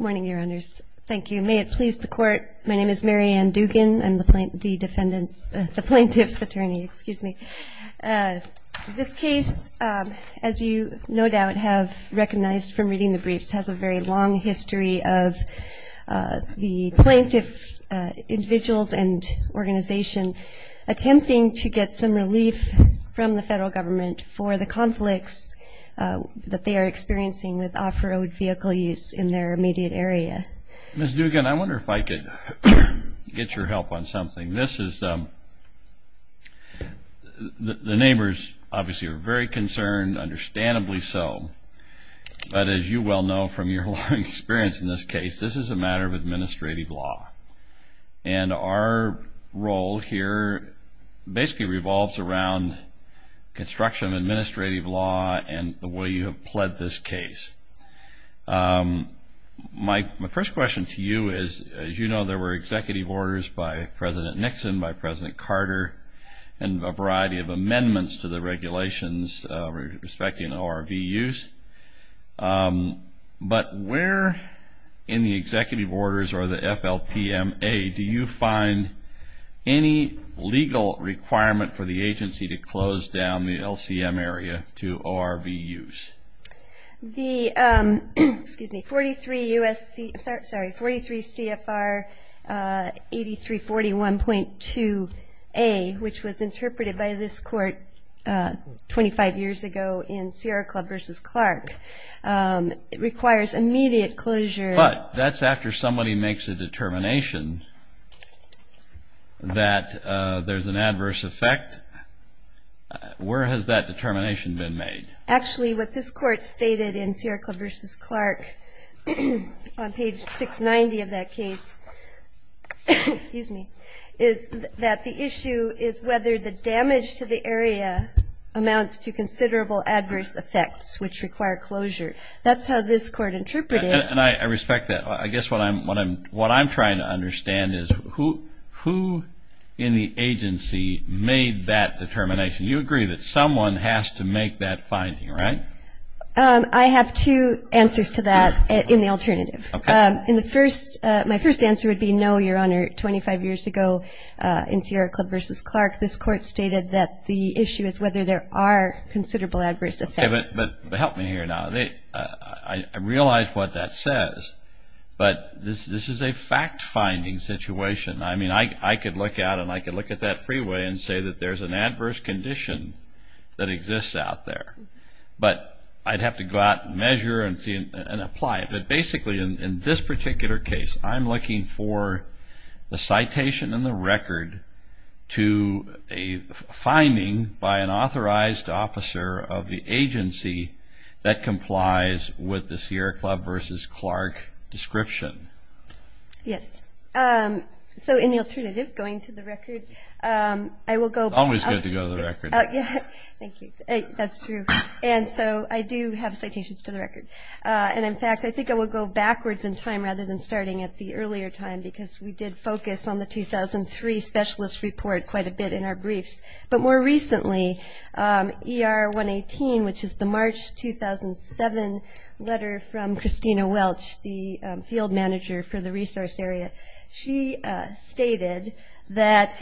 Morning, Your Honors. Thank you. May it please the court, my name is Mary Ann Dugan. I'm the plaintiff's attorney. This case, as you no doubt have recognized from reading the briefs, has a very long history of the plaintiff, individuals, and organization attempting to get some relief from the federal government for the conflicts that they are experiencing with off-road vehicle use in their immediate area. Ms. Dugan, I wonder if I could get your help on something. This is, the neighbors obviously are very concerned, understandably so, but as you well know from your long experience in this case, this is a matter of administrative law. And our role here basically revolves around construction of administrative law and the way you have pled this case. My first question to you is, as you know, there were executive orders by President Nixon, by President Carter, and a variety of amendments to the regulations respecting ORV use. But where in the executive orders or the FLPMA do you find any legal requirement for the agency to close down the LCM area to ORV use? The 43 CFR 8341.2a, which was interpreted by this court 25 years ago in Sierra Club versus Clark, requires immediate closure. But that's after somebody makes a determination that there's an adverse effect. Where has that determination been made? Actually, what this court stated in Sierra Club versus Clark on page 690 of that case, excuse me, is that the issue is whether the damage to the area amounts to considerable adverse effects, which require closure. That's how this court interpreted it. And I respect that. I guess what I'm trying to understand is who in the agency made that determination. You agree that someone has to make that finding, right? I have two answers to that in the alternative. My first answer would be no, Your Honor. 25 years ago in Sierra Club versus Clark, this court stated that the issue is whether there are considerable adverse effects. Help me here now. I realize what that says. But this is a fact-finding situation. I mean, I could look out, and I could look at that freeway and say that there's an adverse condition that exists out there. But I'd have to go out and measure and apply it. But basically, in this particular case, I'm looking for the citation and the record to a finding by an authorized officer of the agency that complies with the Sierra Club versus Clark description. Yes. So in the alternative, going to the record, I will go back. It's always good to go to the record. Thank you. That's true. And so I do have citations to the record. And in fact, I think I will go backwards in time rather than starting at the earlier time because we did focus on the 2003 specialist report quite a bit in our briefs. But more recently, ER 118, which is the March 2007 letter from Christina Welch, the field manager for the resource area, she stated that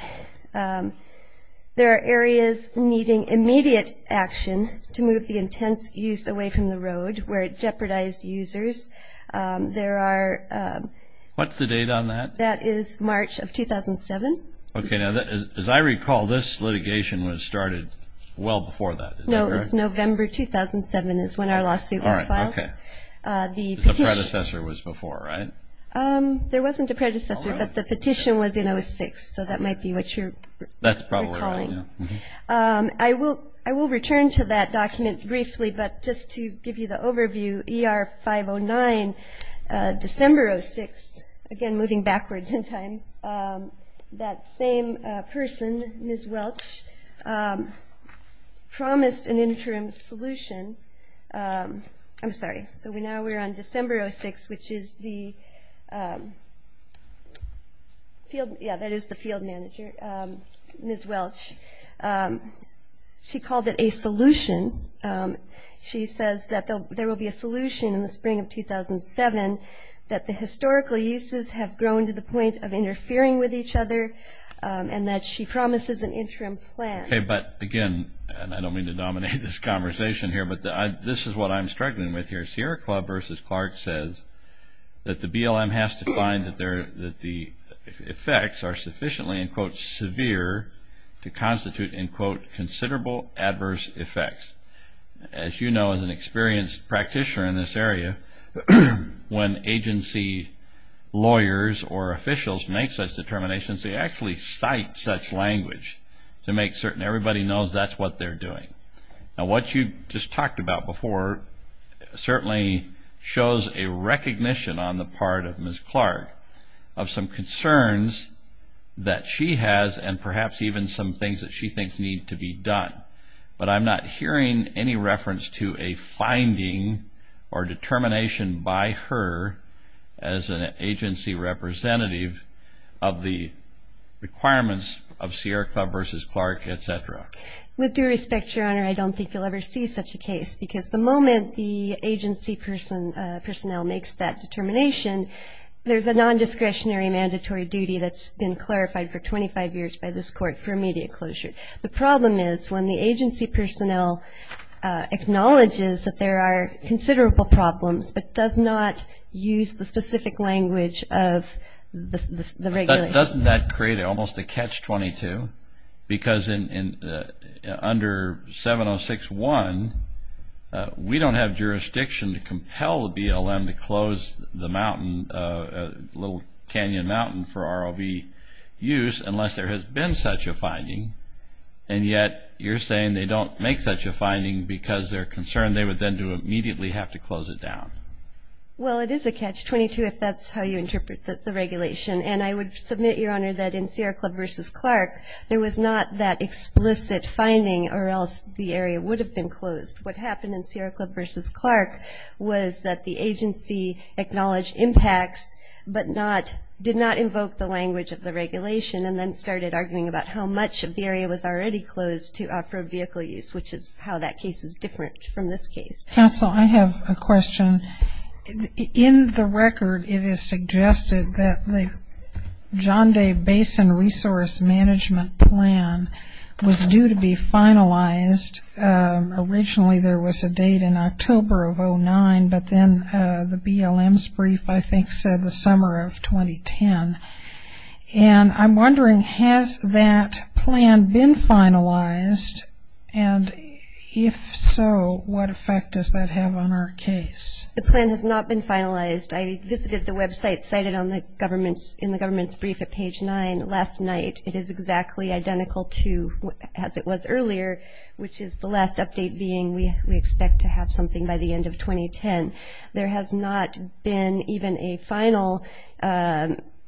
there are areas needing immediate action to move the intense use away from the road where it jeopardized users. There are- What's the date on that? That is March of 2007. As I recall, this litigation was started well before that. No, it was November 2007 is when our lawsuit was filed. The predecessor was before, right? There wasn't a predecessor, but the petition was in 06. So that might be what you're recalling. I will return to that document briefly. But just to give you the overview, ER 509, December 06, again, moving backwards in time, that same person, Ms. Welch, promised an interim solution. I'm sorry. So now we're on December 06, which is the field manager, Ms. Welch. She called it a solution. She says that there will be a solution in the spring of 2007 that the historical uses have grown to the point of interfering with each other, and that she promises an interim plan. But again, and I don't mean to dominate this conversation here, but this is what I'm struggling with here. Sierra Club versus Clark says that the BLM has to find that the effects are sufficiently, and quote, severe, to constitute, and quote, considerable adverse effects. As you know, as an experienced practitioner in this area, when agency lawyers or officials make such determinations, they actually cite such language to make certain everybody knows that's what they're doing. Now, what you just talked about before certainly shows a recognition on the part of Ms. Clark of some concerns that she has, and perhaps even some things that she thinks need to be done. But I'm not hearing any reference to a finding or determination by her as an agency representative of the requirements of Sierra Club versus Clark, et cetera. With due respect, Your Honor, I don't think you'll ever see such a case. Because the moment the agency personnel makes that determination, there's a non-discretionary mandatory duty that's been clarified for 25 years by this court for immediate closure. The problem is when the agency personnel acknowledges that there are considerable problems, but does not use the specific language of the regulation. Doesn't that create almost a catch-22? Because under 706-1, we don't have jurisdiction to compel the BLM to close the mountain, Little Canyon Mountain, for ROV use unless there has been such a finding. And yet, you're saying they don't make such a finding because they're concerned they would then do immediately have to close it down. Well, it is a catch-22 if that's how you interpret the regulation. And I would submit, Your Honor, that in Sierra Club versus Clark, there was not that explicit finding, or else the area would have been closed. What happened in Sierra Club versus Clark was that the agency acknowledged impacts, but did not invoke the language of the regulation, and then started arguing about how much of the area was already closed for vehicle use, which is how that case is different from this case. Counsel, I have a question. In the record, it is suggested that the John Day Basin Resource Management Plan was due to be finalized. Originally, there was a date in October of 2009, but then the BLM's brief, I think, said the summer of 2010. And I'm wondering, has that plan been finalized? And if so, what effect does that have on our case? The plan has not been finalized. I visited the website cited in the government's brief at page 9 last night. It is exactly identical to as it was earlier, which is the last update being we expect to have something by the end of 2010. There has not been even a final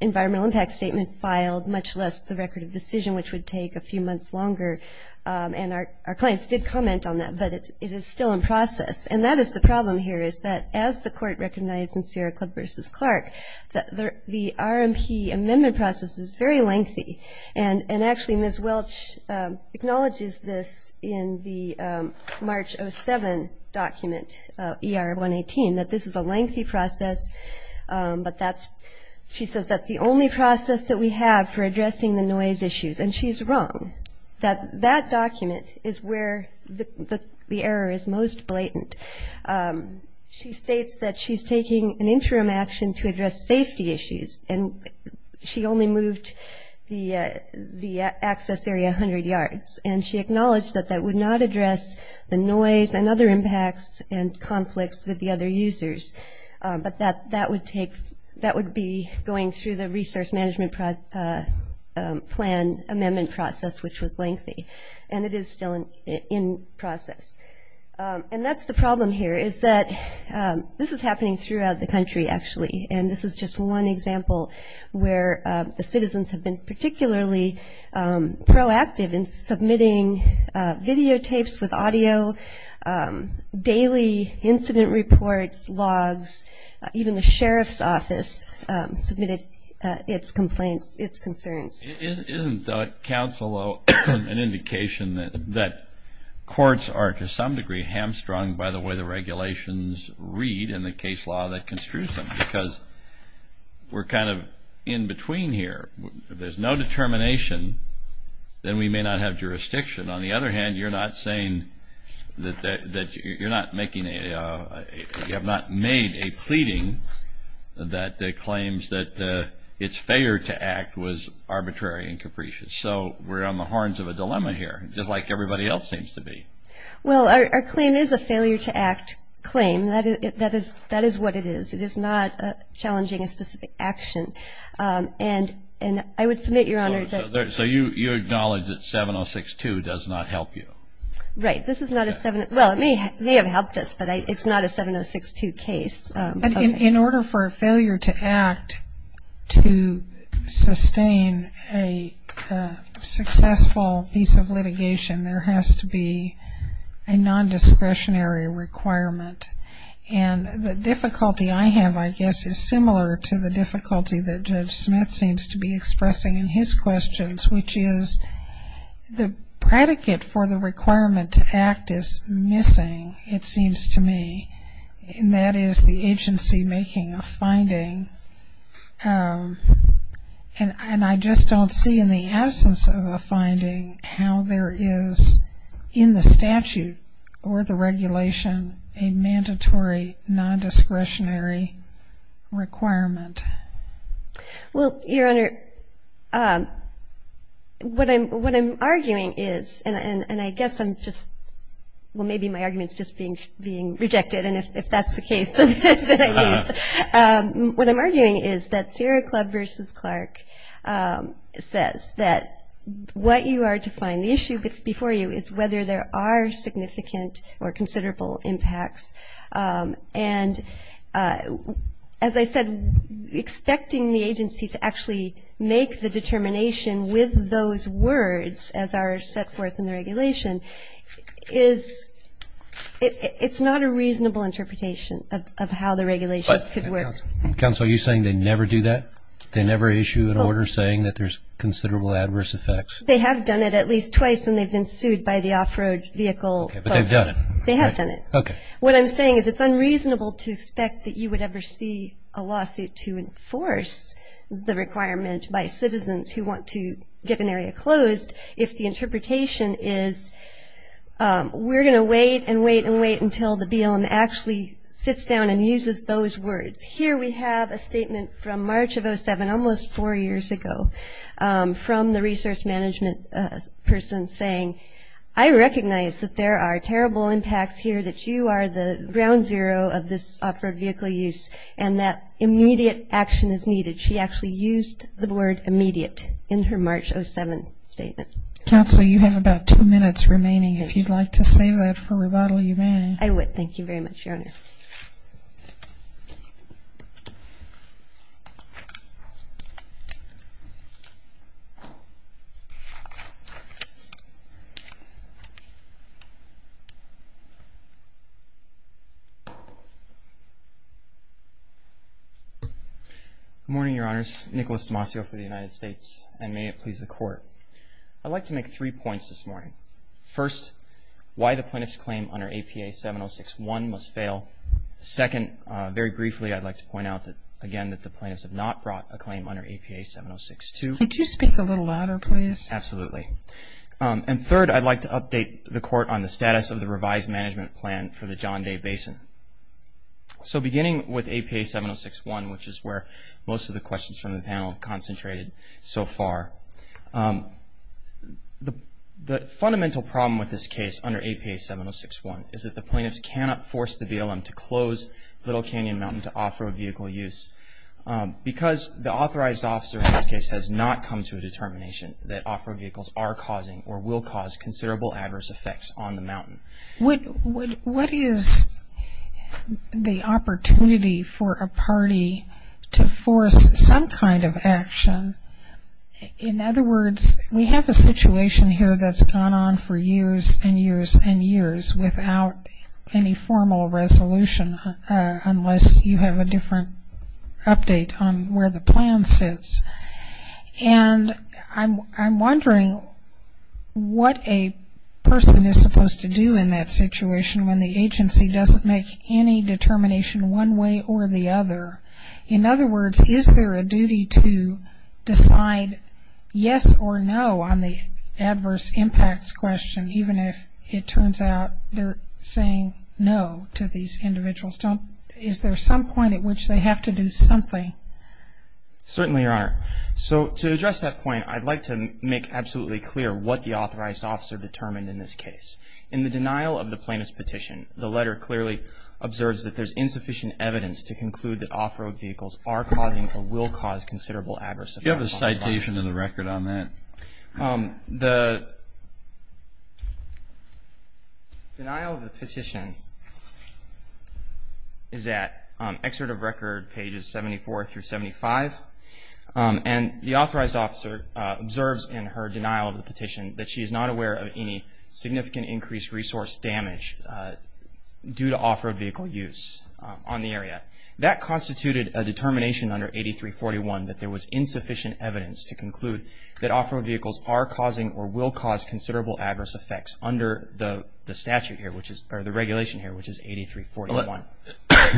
environmental impact statement filed, much less the record of decision, which would take a few months longer. And our clients did comment on that, but it is still in process. And that is the problem here, is that as the court recognized in Sierra Club versus Clark, the RMP amendment process is very lengthy. And actually, Ms. Welch acknowledges this in the March of 7 document, ER 118, that this is a lengthy process. But she says that's the only process that we have for addressing the noise issues. And she's wrong. That document is where the error is most blatant. She states that she's taking an interim action to address safety issues. And she only moved the access area 100 yards. And she acknowledged that that would not address the noise and other impacts and conflicts with the other users. But that would be going through the resource management plan amendment process, which was lengthy. And it is still in process. And that's the problem here, is that this is happening throughout the country, actually. And this is just one example where the citizens have been particularly proactive in submitting videotapes with audio, daily incident reports, logs. Even the sheriff's office submitted its complaints, its concerns. Isn't the counsel an indication that courts are, to some degree, hamstrung by the way the regulations read in the case law that construes them? Because we're kind of in between here. If there's no determination, then we may not have jurisdiction. On the other hand, you're not saying that you're not making a, you have not made a pleading that claims that its failure to act was arbitrary and capricious. So we're on the horns of a dilemma here, just like everybody else seems to be. Well, our claim is a failure to act claim. That is what it is. It is not challenging a specific action. And I would submit, Your Honor, that So you acknowledge that 7062 does not help you? Right, this is not a 70, well, it may have helped us, but it's not a 7062 case. But in order for a failure to act to sustain a successful piece of litigation, there has to be a non-discretionary requirement. And the difficulty I have, I guess, is similar to the difficulty that Judge Smith seems to be expressing in his questions, which is the predicate for the requirement to act is missing, it seems to me. And that is the agency making a finding. And I just don't see in the absence of a finding how there is in the statute or the regulation a mandatory non-discretionary requirement. Well, Your Honor, what I'm arguing is, and I guess I'm just, well, maybe my argument's just being rejected. And if that's the case, then I guess, what I'm arguing is that Sierra Club versus Clark says that what you are to find, the issue before you, is whether there are significant or considerable impacts. And as I said, expecting the agency to actually make the determination with those words as are set forth in the regulation is not a reasonable interpretation of how the regulation could work. Counsel, are you saying they never do that? They never issue an order saying that there's considerable adverse effects? They have done it at least twice, and they've been sued by the off-road vehicle folks. But they've done it. They have done it. What I'm saying is it's unreasonable to expect that you would ever see a lawsuit to enforce the requirement by citizens who want to get an area closed if the interpretation is, we're going to wait and wait and wait until the BLM actually sits down and uses those words. Here we have a statement from March of 07, almost four years ago, from the resource management person saying, I recognize that there are terrible impacts here, that you are the ground zero of this off-road vehicle use, and that immediate action is needed. She actually used the word immediate in her March 07 statement. Counsel, you have about two minutes remaining. If you'd like to save that for rebuttal, you may. I would. Thank you very much, Your Honor. Good morning, Your Honors. Nicholas D'Amacio for the United States, and may it please the Court. I'd like to make three points this morning. First, why the plaintiff's claim under APA 706-1 must fail. Second, very briefly, I'd like to point out that, again, that the plaintiffs have not brought a claim under APA 706-2. under APA 706-2 is not a claim under APA 706-1. And third, I'd like to update the Court on the status of the revised management plan for the John Day Basin. So beginning with APA 706-1, which is where most of the questions from the panel have concentrated so far, the fundamental problem with this case under APA 706-1 is that the plaintiffs cannot force the BLM to close Little Canyon Mountain to off-road vehicle use. Because the authorized officer in this case has not come to a determination that off-road vehicles are causing or will cause considerable adverse effects on the mountain. What is the opportunity for a party to force some kind of action? In other words, we have a situation here that's gone on for years and years and years without any formal resolution, unless you have a different update on where the plan sits. And I'm wondering what a person is supposed to do in that situation when the agency doesn't make any determination one way or the other. In other words, is there a duty to decide yes or no on the adverse impacts question, even if it turns out they're saying no to these individuals? Is there some point at which they have to do something? Certainly, Your Honor. So to address that point, I'd like to make absolutely clear what the authorized officer determined in this case. In the denial of the plaintiff's petition, the letter clearly observes that there's insufficient evidence to conclude that off-road vehicles are causing or will cause considerable adverse effects on the mountain. Do you have a citation of the record on that? The denial of the petition is at excerpt of record pages 74 through 75. And the authorized officer observes in her denial of the petition that she is not aware of any significant increased resource damage due to off-road vehicle use on the area. That constituted a determination under 8341 that there was insufficient evidence to conclude that off-road vehicles are causing or will cause considerable adverse effects under the statute here, or the regulation here, which is 8341.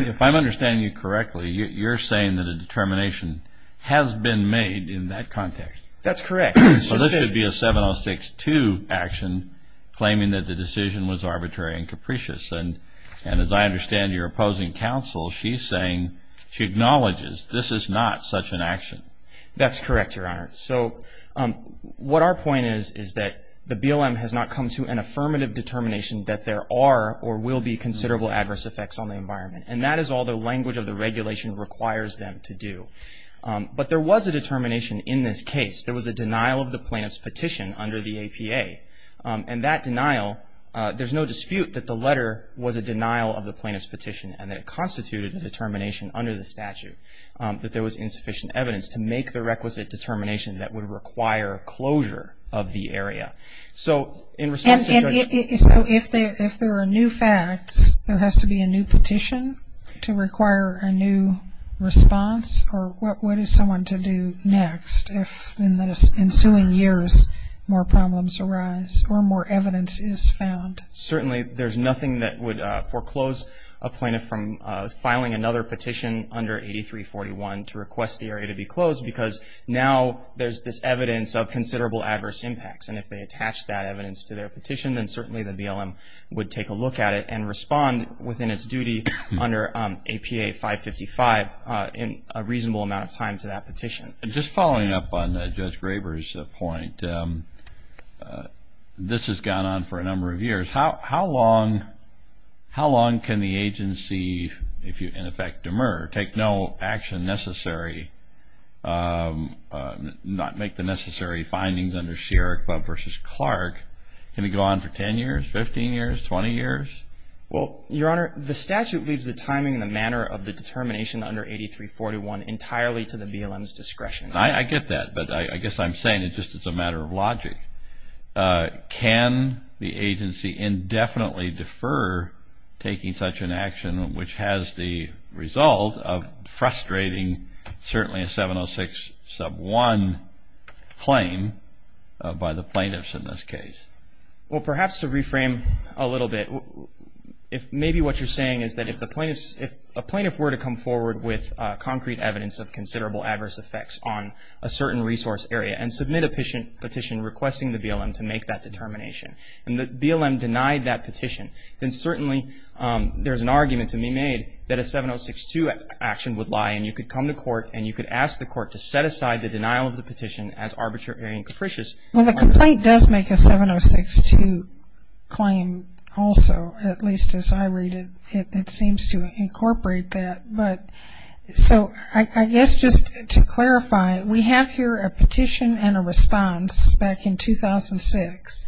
If I'm understanding you correctly, you're saying that a determination has been made in that context. That's correct. So this should be a 7062 action claiming that the decision was arbitrary and capricious. And as I understand your opposing counsel, she's saying she acknowledges this is not such an action. That's correct, Your Honor. So what our point is is that the BLM has not come to an affirmative determination that there are or will be considerable adverse effects on the environment. And that is all the language of the regulation requires them to do. But there was a determination in this case. There was a denial of the plaintiff's petition under the APA. And that denial, there's no dispute that the letter was a denial of the plaintiff's petition and that it constituted a determination under the statute that there was insufficient evidence to make the requisite determination that would require closure of the area. So in response to Judge Hall. So if there are new facts, there has to be a new petition to require a new response? Or what is someone to do next if in the ensuing years more problems arise or more evidence is found? Certainly, there's nothing that would foreclose a plaintiff from filing another petition under 8341 to request the area to be closed. Because now there's this evidence of considerable adverse impacts. And if they attach that evidence to their petition, then certainly the BLM would take a look at it and respond within its duty under APA 555 in a reasonable amount of time to that petition. Just following up on Judge Graber's point, this has gone on for a number of years. How long can the agency, in effect, demur, take no action necessary, not make the necessary findings under Sierra Club versus Clark? Can it go on for 10 years, 15 years, 20 years? Well, Your Honor, the statute leaves the timing and the manner of the determination under 8341 entirely to the BLM's discretion. I get that. But I guess I'm saying it's just a matter of logic. Can the agency indefinitely defer taking such an action, which has the result of frustrating certainly a 706 sub 1 claim by the plaintiffs in this case? Well, perhaps to reframe a little bit, maybe what you're saying is that if a plaintiff were to come forward with concrete evidence of considerable adverse effects on a certain resource area and submit a petition requesting the BLM to make that determination, and the BLM denied that petition, then certainly there's an argument to be made that a 706 2 action would lie. And you could come to court, and you could ask the court to set aside the denial of the petition as arbitrary and capricious. Well, the complaint does make a 706 2 claim also, at least as I read it. It seems to incorporate that. But so I guess just to clarify, we have here a petition and a response back in 2006.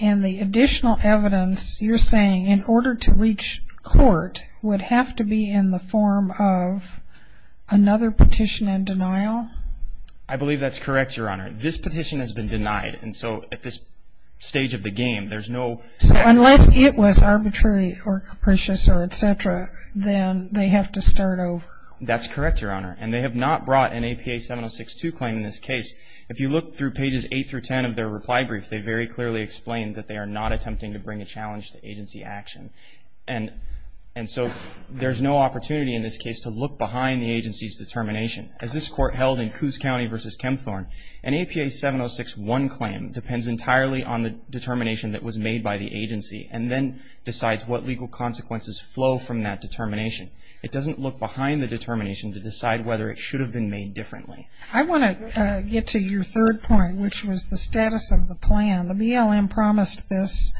And the additional evidence you're saying in order to reach court would have to be in the form of another petition and denial? I believe that's correct, Your Honor. This petition has been denied. And so at this stage of the game, there's no- So unless it was arbitrary or capricious or et cetera, then they have to start over. That's correct, Your Honor. And they have not brought an APA 706 2 claim in this case. If you look through pages 8 through 10 of their reply brief, they very clearly explain that they are not And so there's no opportunity in this case to look behind the agency's determination. As this court held in Coos County versus Kempthorne, an APA 706 1 claim depends entirely on the determination that was made by the agency and then decides what legal consequences flow from that determination. It doesn't look behind the determination to decide whether it should have been made differently. I want to get to your third point, which was the status of the plan. The BLM promised this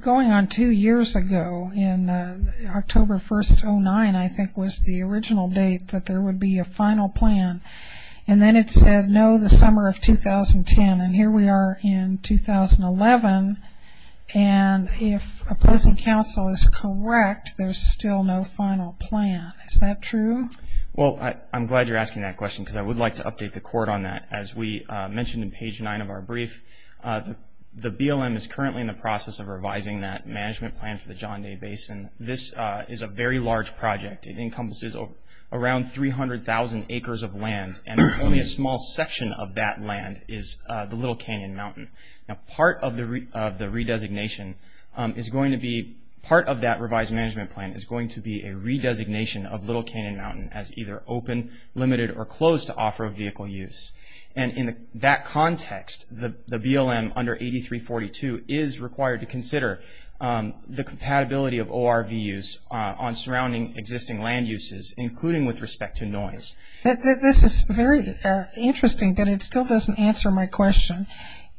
going on two years ago. And October 1, 2009, I think, was the original date that there would be a final plan. And then it said, no, the summer of 2010. And here we are in 2011. And if opposing counsel is correct, there's still no final plan. Is that true? Well, I'm glad you're asking that question because I would like to update the court on that. As we mentioned in page 9 of our brief, the BLM is currently in the process of revising that management plan for the John Day Basin. This is a very large project. It encompasses around 300,000 acres of land. And only a small section of that land is the Little Canyon Mountain. Now, part of the redesignation is going to be part of that revised management plan is going to be a redesignation of Little Canyon Mountain as either open, limited, or closed to off-road vehicle use. And in that context, the BLM under 8342 is required to consider the compatibility of ORV use on surrounding existing land uses, including with respect to noise. This is very interesting, but it still doesn't answer my question.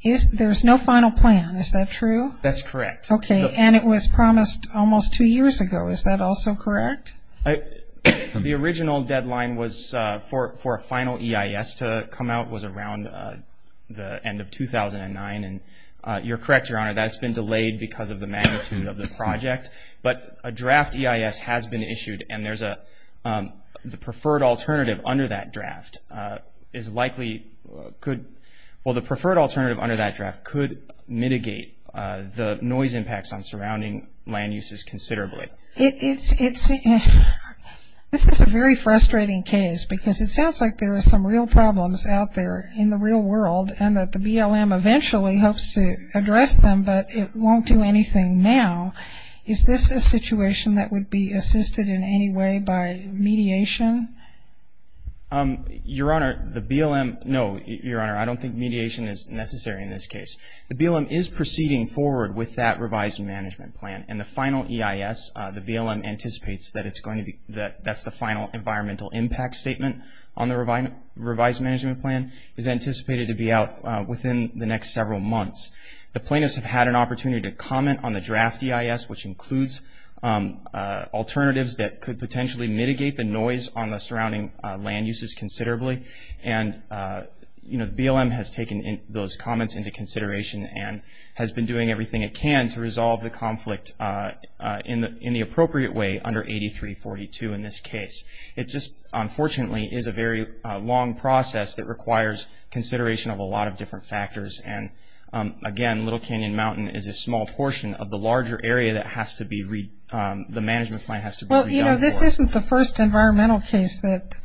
There's no final plan. Is that true? That's correct. OK. And it was promised almost two years ago. Is that also correct? The original deadline was for a final EIS to come out was around the end of 2009. And you're correct, Your Honor. That's been delayed because of the magnitude of the project. But a draft EIS has been issued. And the preferred alternative under that draft is likely could, well, the preferred alternative under that draft could mitigate the noise impacts on surrounding land uses considerably. This is a very frustrating case, because it looks like there are a lot of problems out there in the real world, and that the BLM eventually hopes to address them, but it won't do anything now. Is this a situation that would be assisted in any way by mediation? Your Honor, the BLM, no, Your Honor, I don't think mediation is necessary in this case. The BLM is proceeding forward with that revised management plan. And the final EIS, the BLM anticipates that it's going to be, that's the final environmental impact statement on the revised management plan, is anticipated to be out within the next several months. The plaintiffs have had an opportunity to comment on the draft EIS, which includes alternatives that could potentially mitigate the noise on the surrounding land uses considerably. And the BLM has taken those comments into consideration and has been doing everything it can to resolve the conflict in the appropriate way under 8342 in this case. It just, unfortunately, is a very long process that requires consideration of a lot of different factors. And again, Little Canyon Mountain is a small portion of the larger area that has to be, the management plan has to be redone for. This isn't the first environmental case that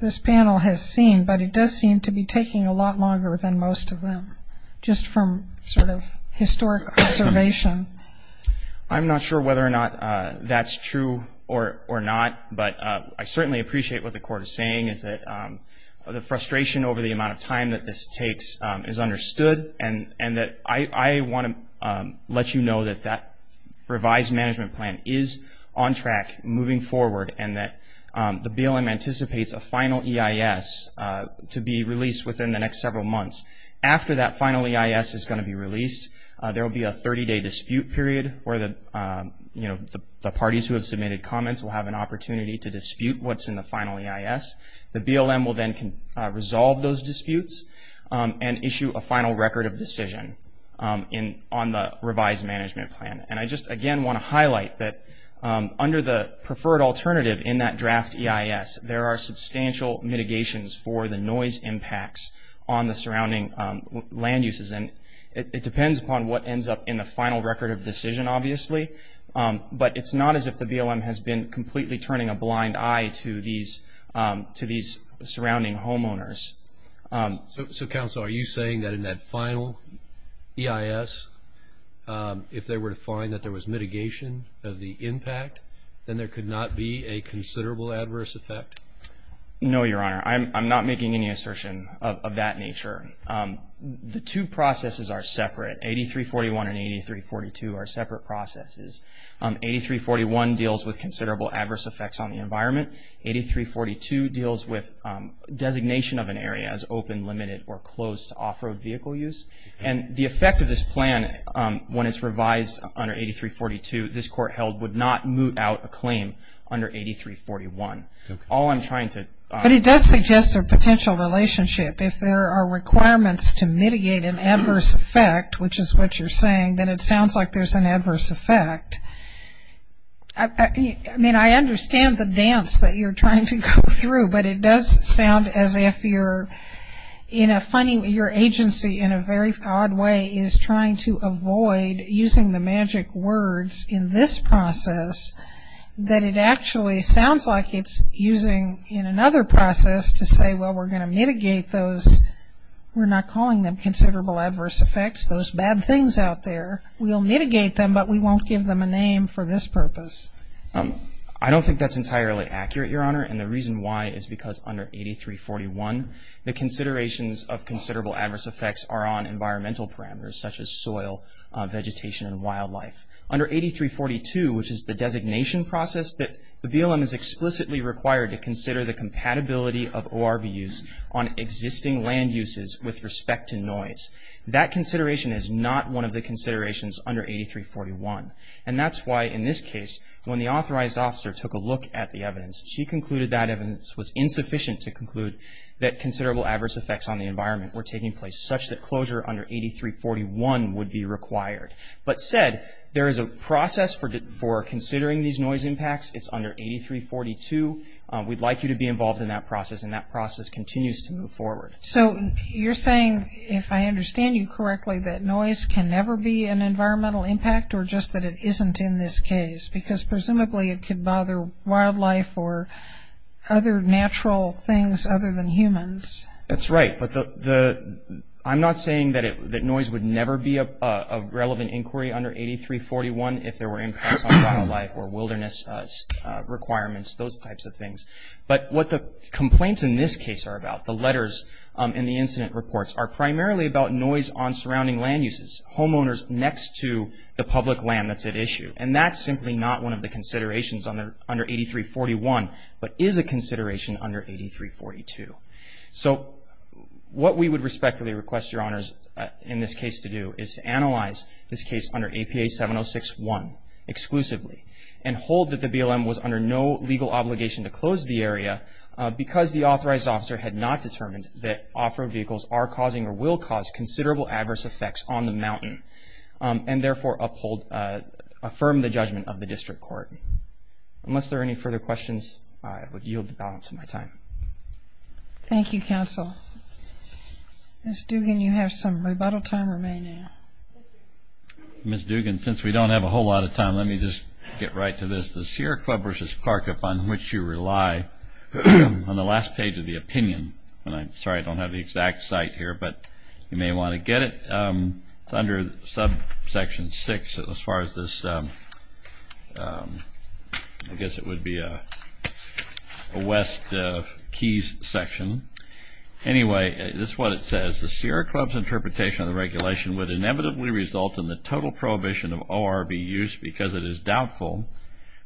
this panel has seen, but it does seem to be taking a lot longer than most of them, just from sort of historic observation. I'm not sure whether or not that's true or not, but I certainly appreciate what the court is saying, is that the frustration over the amount of time that this takes is understood. And I want to let you know that that revised management plan is on track, moving forward, and that the BLM anticipates a final EIS to be released within the next several months. After that final EIS is going to be released, there will be a 30-day dispute period where the parties who have submitted comments will have an opportunity to dispute what's in the final EIS. The BLM will then resolve those disputes and issue a final record of decision on the revised management plan. And I just, again, want to highlight that under the preferred alternative in that draft EIS, there are substantial mitigations for the noise impacts on the surrounding land uses. And it depends upon what ends up in the final record of decision, obviously, but it's not as if the BLM has been completely turning a blind eye to these surrounding homeowners. So counsel, are you saying that in that final EIS, if they were to find that there was mitigation of the impact, then there could not be a considerable adverse effect? No, Your Honor. I'm not making any assertion of that nature. The two processes are separate. 8341 and 8342 are separate processes. 8341 deals with considerable adverse effects on the environment. 8342 deals with designation of an area as open, limited, or closed to off-road vehicle use. And the effect of this plan, when it's revised under 8342, this Court held would not moot out a claim under 8341. All I'm trying to- But it does suggest a potential relationship. If there are requirements to mitigate an adverse effect, which is what you're saying, then it sounds like there's an adverse effect. I mean, I understand the dance that you're trying to go through, but it does sound as if you're in a funny- your agency, in a very odd way, is trying to avoid using the magic words in this process that it actually sounds like it's using in another process to say, well, we're going to mitigate those- we're not calling them considerable adverse effects, those bad things out there. We'll mitigate them, but we won't give them a name for this purpose. I don't think that's entirely accurate, Your Honor, and the reason why is because under 8341, the considerations of considerable adverse effects are on environmental parameters, such as soil, vegetation, and wildlife. Under 8342, which is the designation process that the BLM is explicitly required to consider the compatibility of ORB use on existing land uses with respect to noise. That consideration is not one of the considerations under 8341, and that's why, in this case, when the authorized officer took a look at the evidence, she concluded that evidence was insufficient to conclude that considerable adverse effects on the environment were taking place, such that closure under 8341 would be required. But said, there is a process for considering these noise impacts, it's under 8342. We'd like you to be involved in that process, and that process continues to move forward. So, you're saying, if I understand you correctly, that noise can never be an environmental impact, or just that it isn't in this case, because presumably it could bother wildlife or other natural things other than humans. That's right, but I'm not saying that noise would never be a relevant inquiry under 8341 if there were impacts on wildlife or wilderness requirements, those types of things. But what the complaints in this case are about, the letters and the incident reports, are primarily about noise on surrounding land uses, homeowners next to the public land that's at issue. And that's simply not one of the considerations under 8341, but is a consideration under 8342. So, what we would respectfully request your honors, in this case, to do, is to analyze this case under APA 706-1, exclusively, and hold that the BLM was under no legal obligation to close the area because the authorized officer had not determined that off-road vehicles are causing, or will cause, considerable adverse effects on the mountain, and therefore, affirm the judgment of the district court. Unless there are any further questions, I would yield the balance of my time. Thank you, counsel. Ms. Dugan, you have some rebuttal time remaining. Ms. Dugan, since we don't have a whole lot of time, let me just get right to this. The Sierra Club versus Clark, upon which you rely, on the last page of the opinion, and I'm sorry, I don't have the exact site here, but you may want to get it, it's under subsection six, as far as this, I guess it would be a West Keys section. Anyway, this is what it says. The Sierra Club's interpretation of the regulation would inevitably result in the total prohibition of ORB use because it is doubtful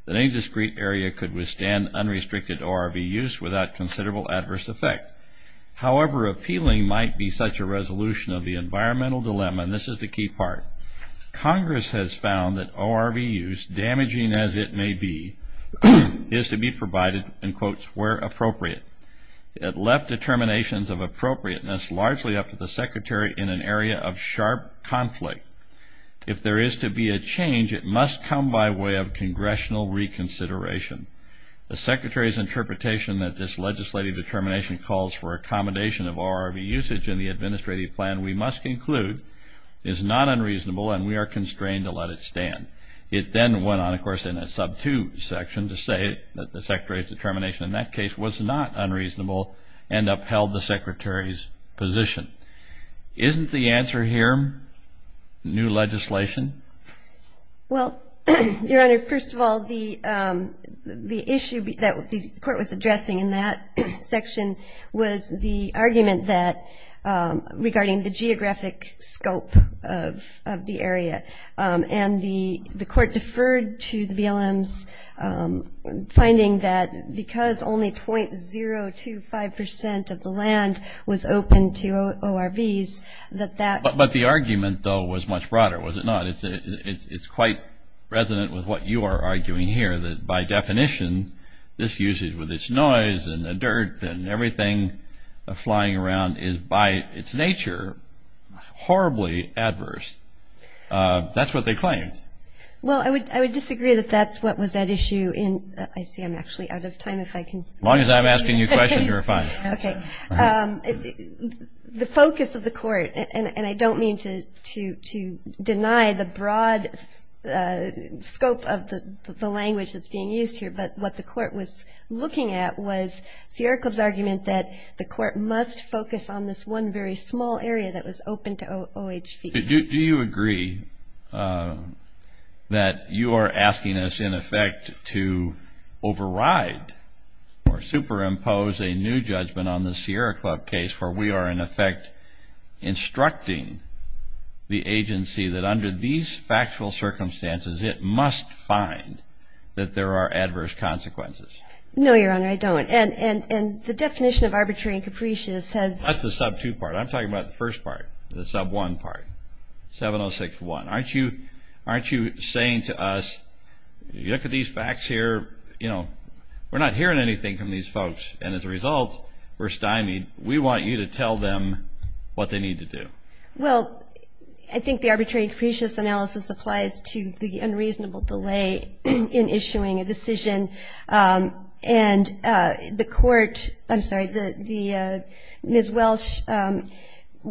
that any discrete area could withstand unrestricted ORB use without considerable adverse effect. However, appealing might be such a resolution of the environmental dilemma, and this is the key part. Congress has found that ORB use, damaging as it may be, is to be provided, in quotes, where appropriate. It left determinations of appropriateness largely up to the secretary in an area of sharp conflict. If there is to be a change, it must come by way of congressional reconsideration. The secretary's interpretation that this legislative determination calls for accommodation of ORB usage in the administrative plan, we must conclude, is not unreasonable, and we are constrained to let it stand. It then went on, of course, in a sub-two section to say that the secretary's determination in that case was not unreasonable, and upheld the secretary's position. Isn't the answer here new legislation? Well, Your Honor, first of all, the issue that the court was addressing in that section was the argument regarding the geographic scope of the area. And the court deferred to the BLM's finding that because only 0.025% of the land was open to ORBs, that that- But the argument, though, was much broader, was it not? It's quite resonant with what you are arguing here, that by definition, this usage with its noise and the dirt and everything flying around is, by its nature, horribly adverse. That's what they claimed. Well, I would disagree that that's what was at issue in- I see I'm actually out of time, if I can- As long as I'm asking you questions, you're fine. OK. The focus of the court, and I don't mean to deny the broad scope of the language that's being used here, but what the court was looking at was Sierra Club's argument that the court must focus on this one very small area that was open to OHVs. Do you agree that you are asking us, in effect, to override or superimpose a new judgment on the Sierra Club case, where we are, in effect, instructing the agency that under these factual circumstances, it must find that there are adverse consequences? No, Your Honor, I don't. And the definition of arbitrary and capricious says- That's the sub two part. I'm talking about the first part, the sub one part, 706-1. Aren't you saying to us, you look at these facts here, we're not hearing anything from these folks. And as a result, we're stymied. We want you to tell them what they need to do. Well, I think the arbitrary and capricious analysis applies to the unreasonable delay in issuing a decision. And the court, I'm sorry, Ms. Welsh,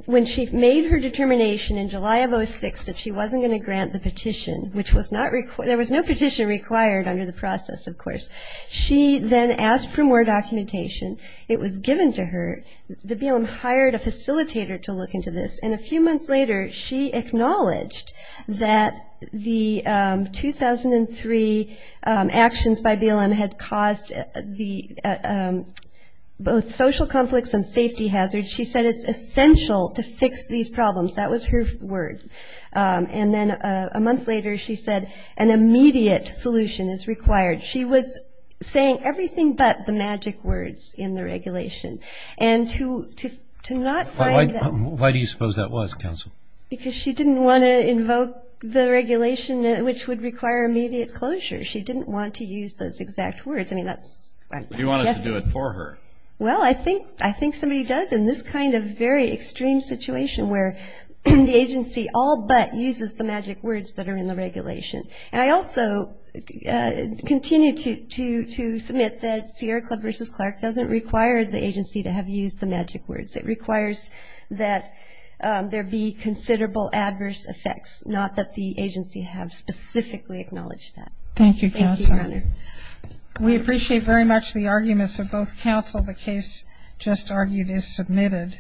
when she made her determination in July of 06 that she wasn't going to grant the petition, which was not required, there was no petition required under the process, of course. She then asked for more documentation. It was given to her. The BLM hired a facilitator to look into this. And a few months later, she acknowledged that the 2003 actions by BLM had caused both social conflicts and safety hazards. She said it's essential to fix these problems. That was her word. And then a month later, she said an immediate solution is required. She was saying everything but the magic words in the regulation. And to not find that. Why do you suppose that was, counsel? Because she didn't want to invoke the regulation, which would require immediate closure. She didn't want to use those exact words. I mean, that's, I guess. You want us to do it for her. Well, I think somebody does in this kind of very extreme situation, where the agency all but uses the magic words that are in the regulation. And I also continue to submit that Sierra Club versus Clark doesn't require the agency to have used the magic words. It requires that there be considerable adverse effects, not that the agency have specifically acknowledged that. Thank you, counsel. We appreciate very much the arguments of both counsel. The case just argued is submitted.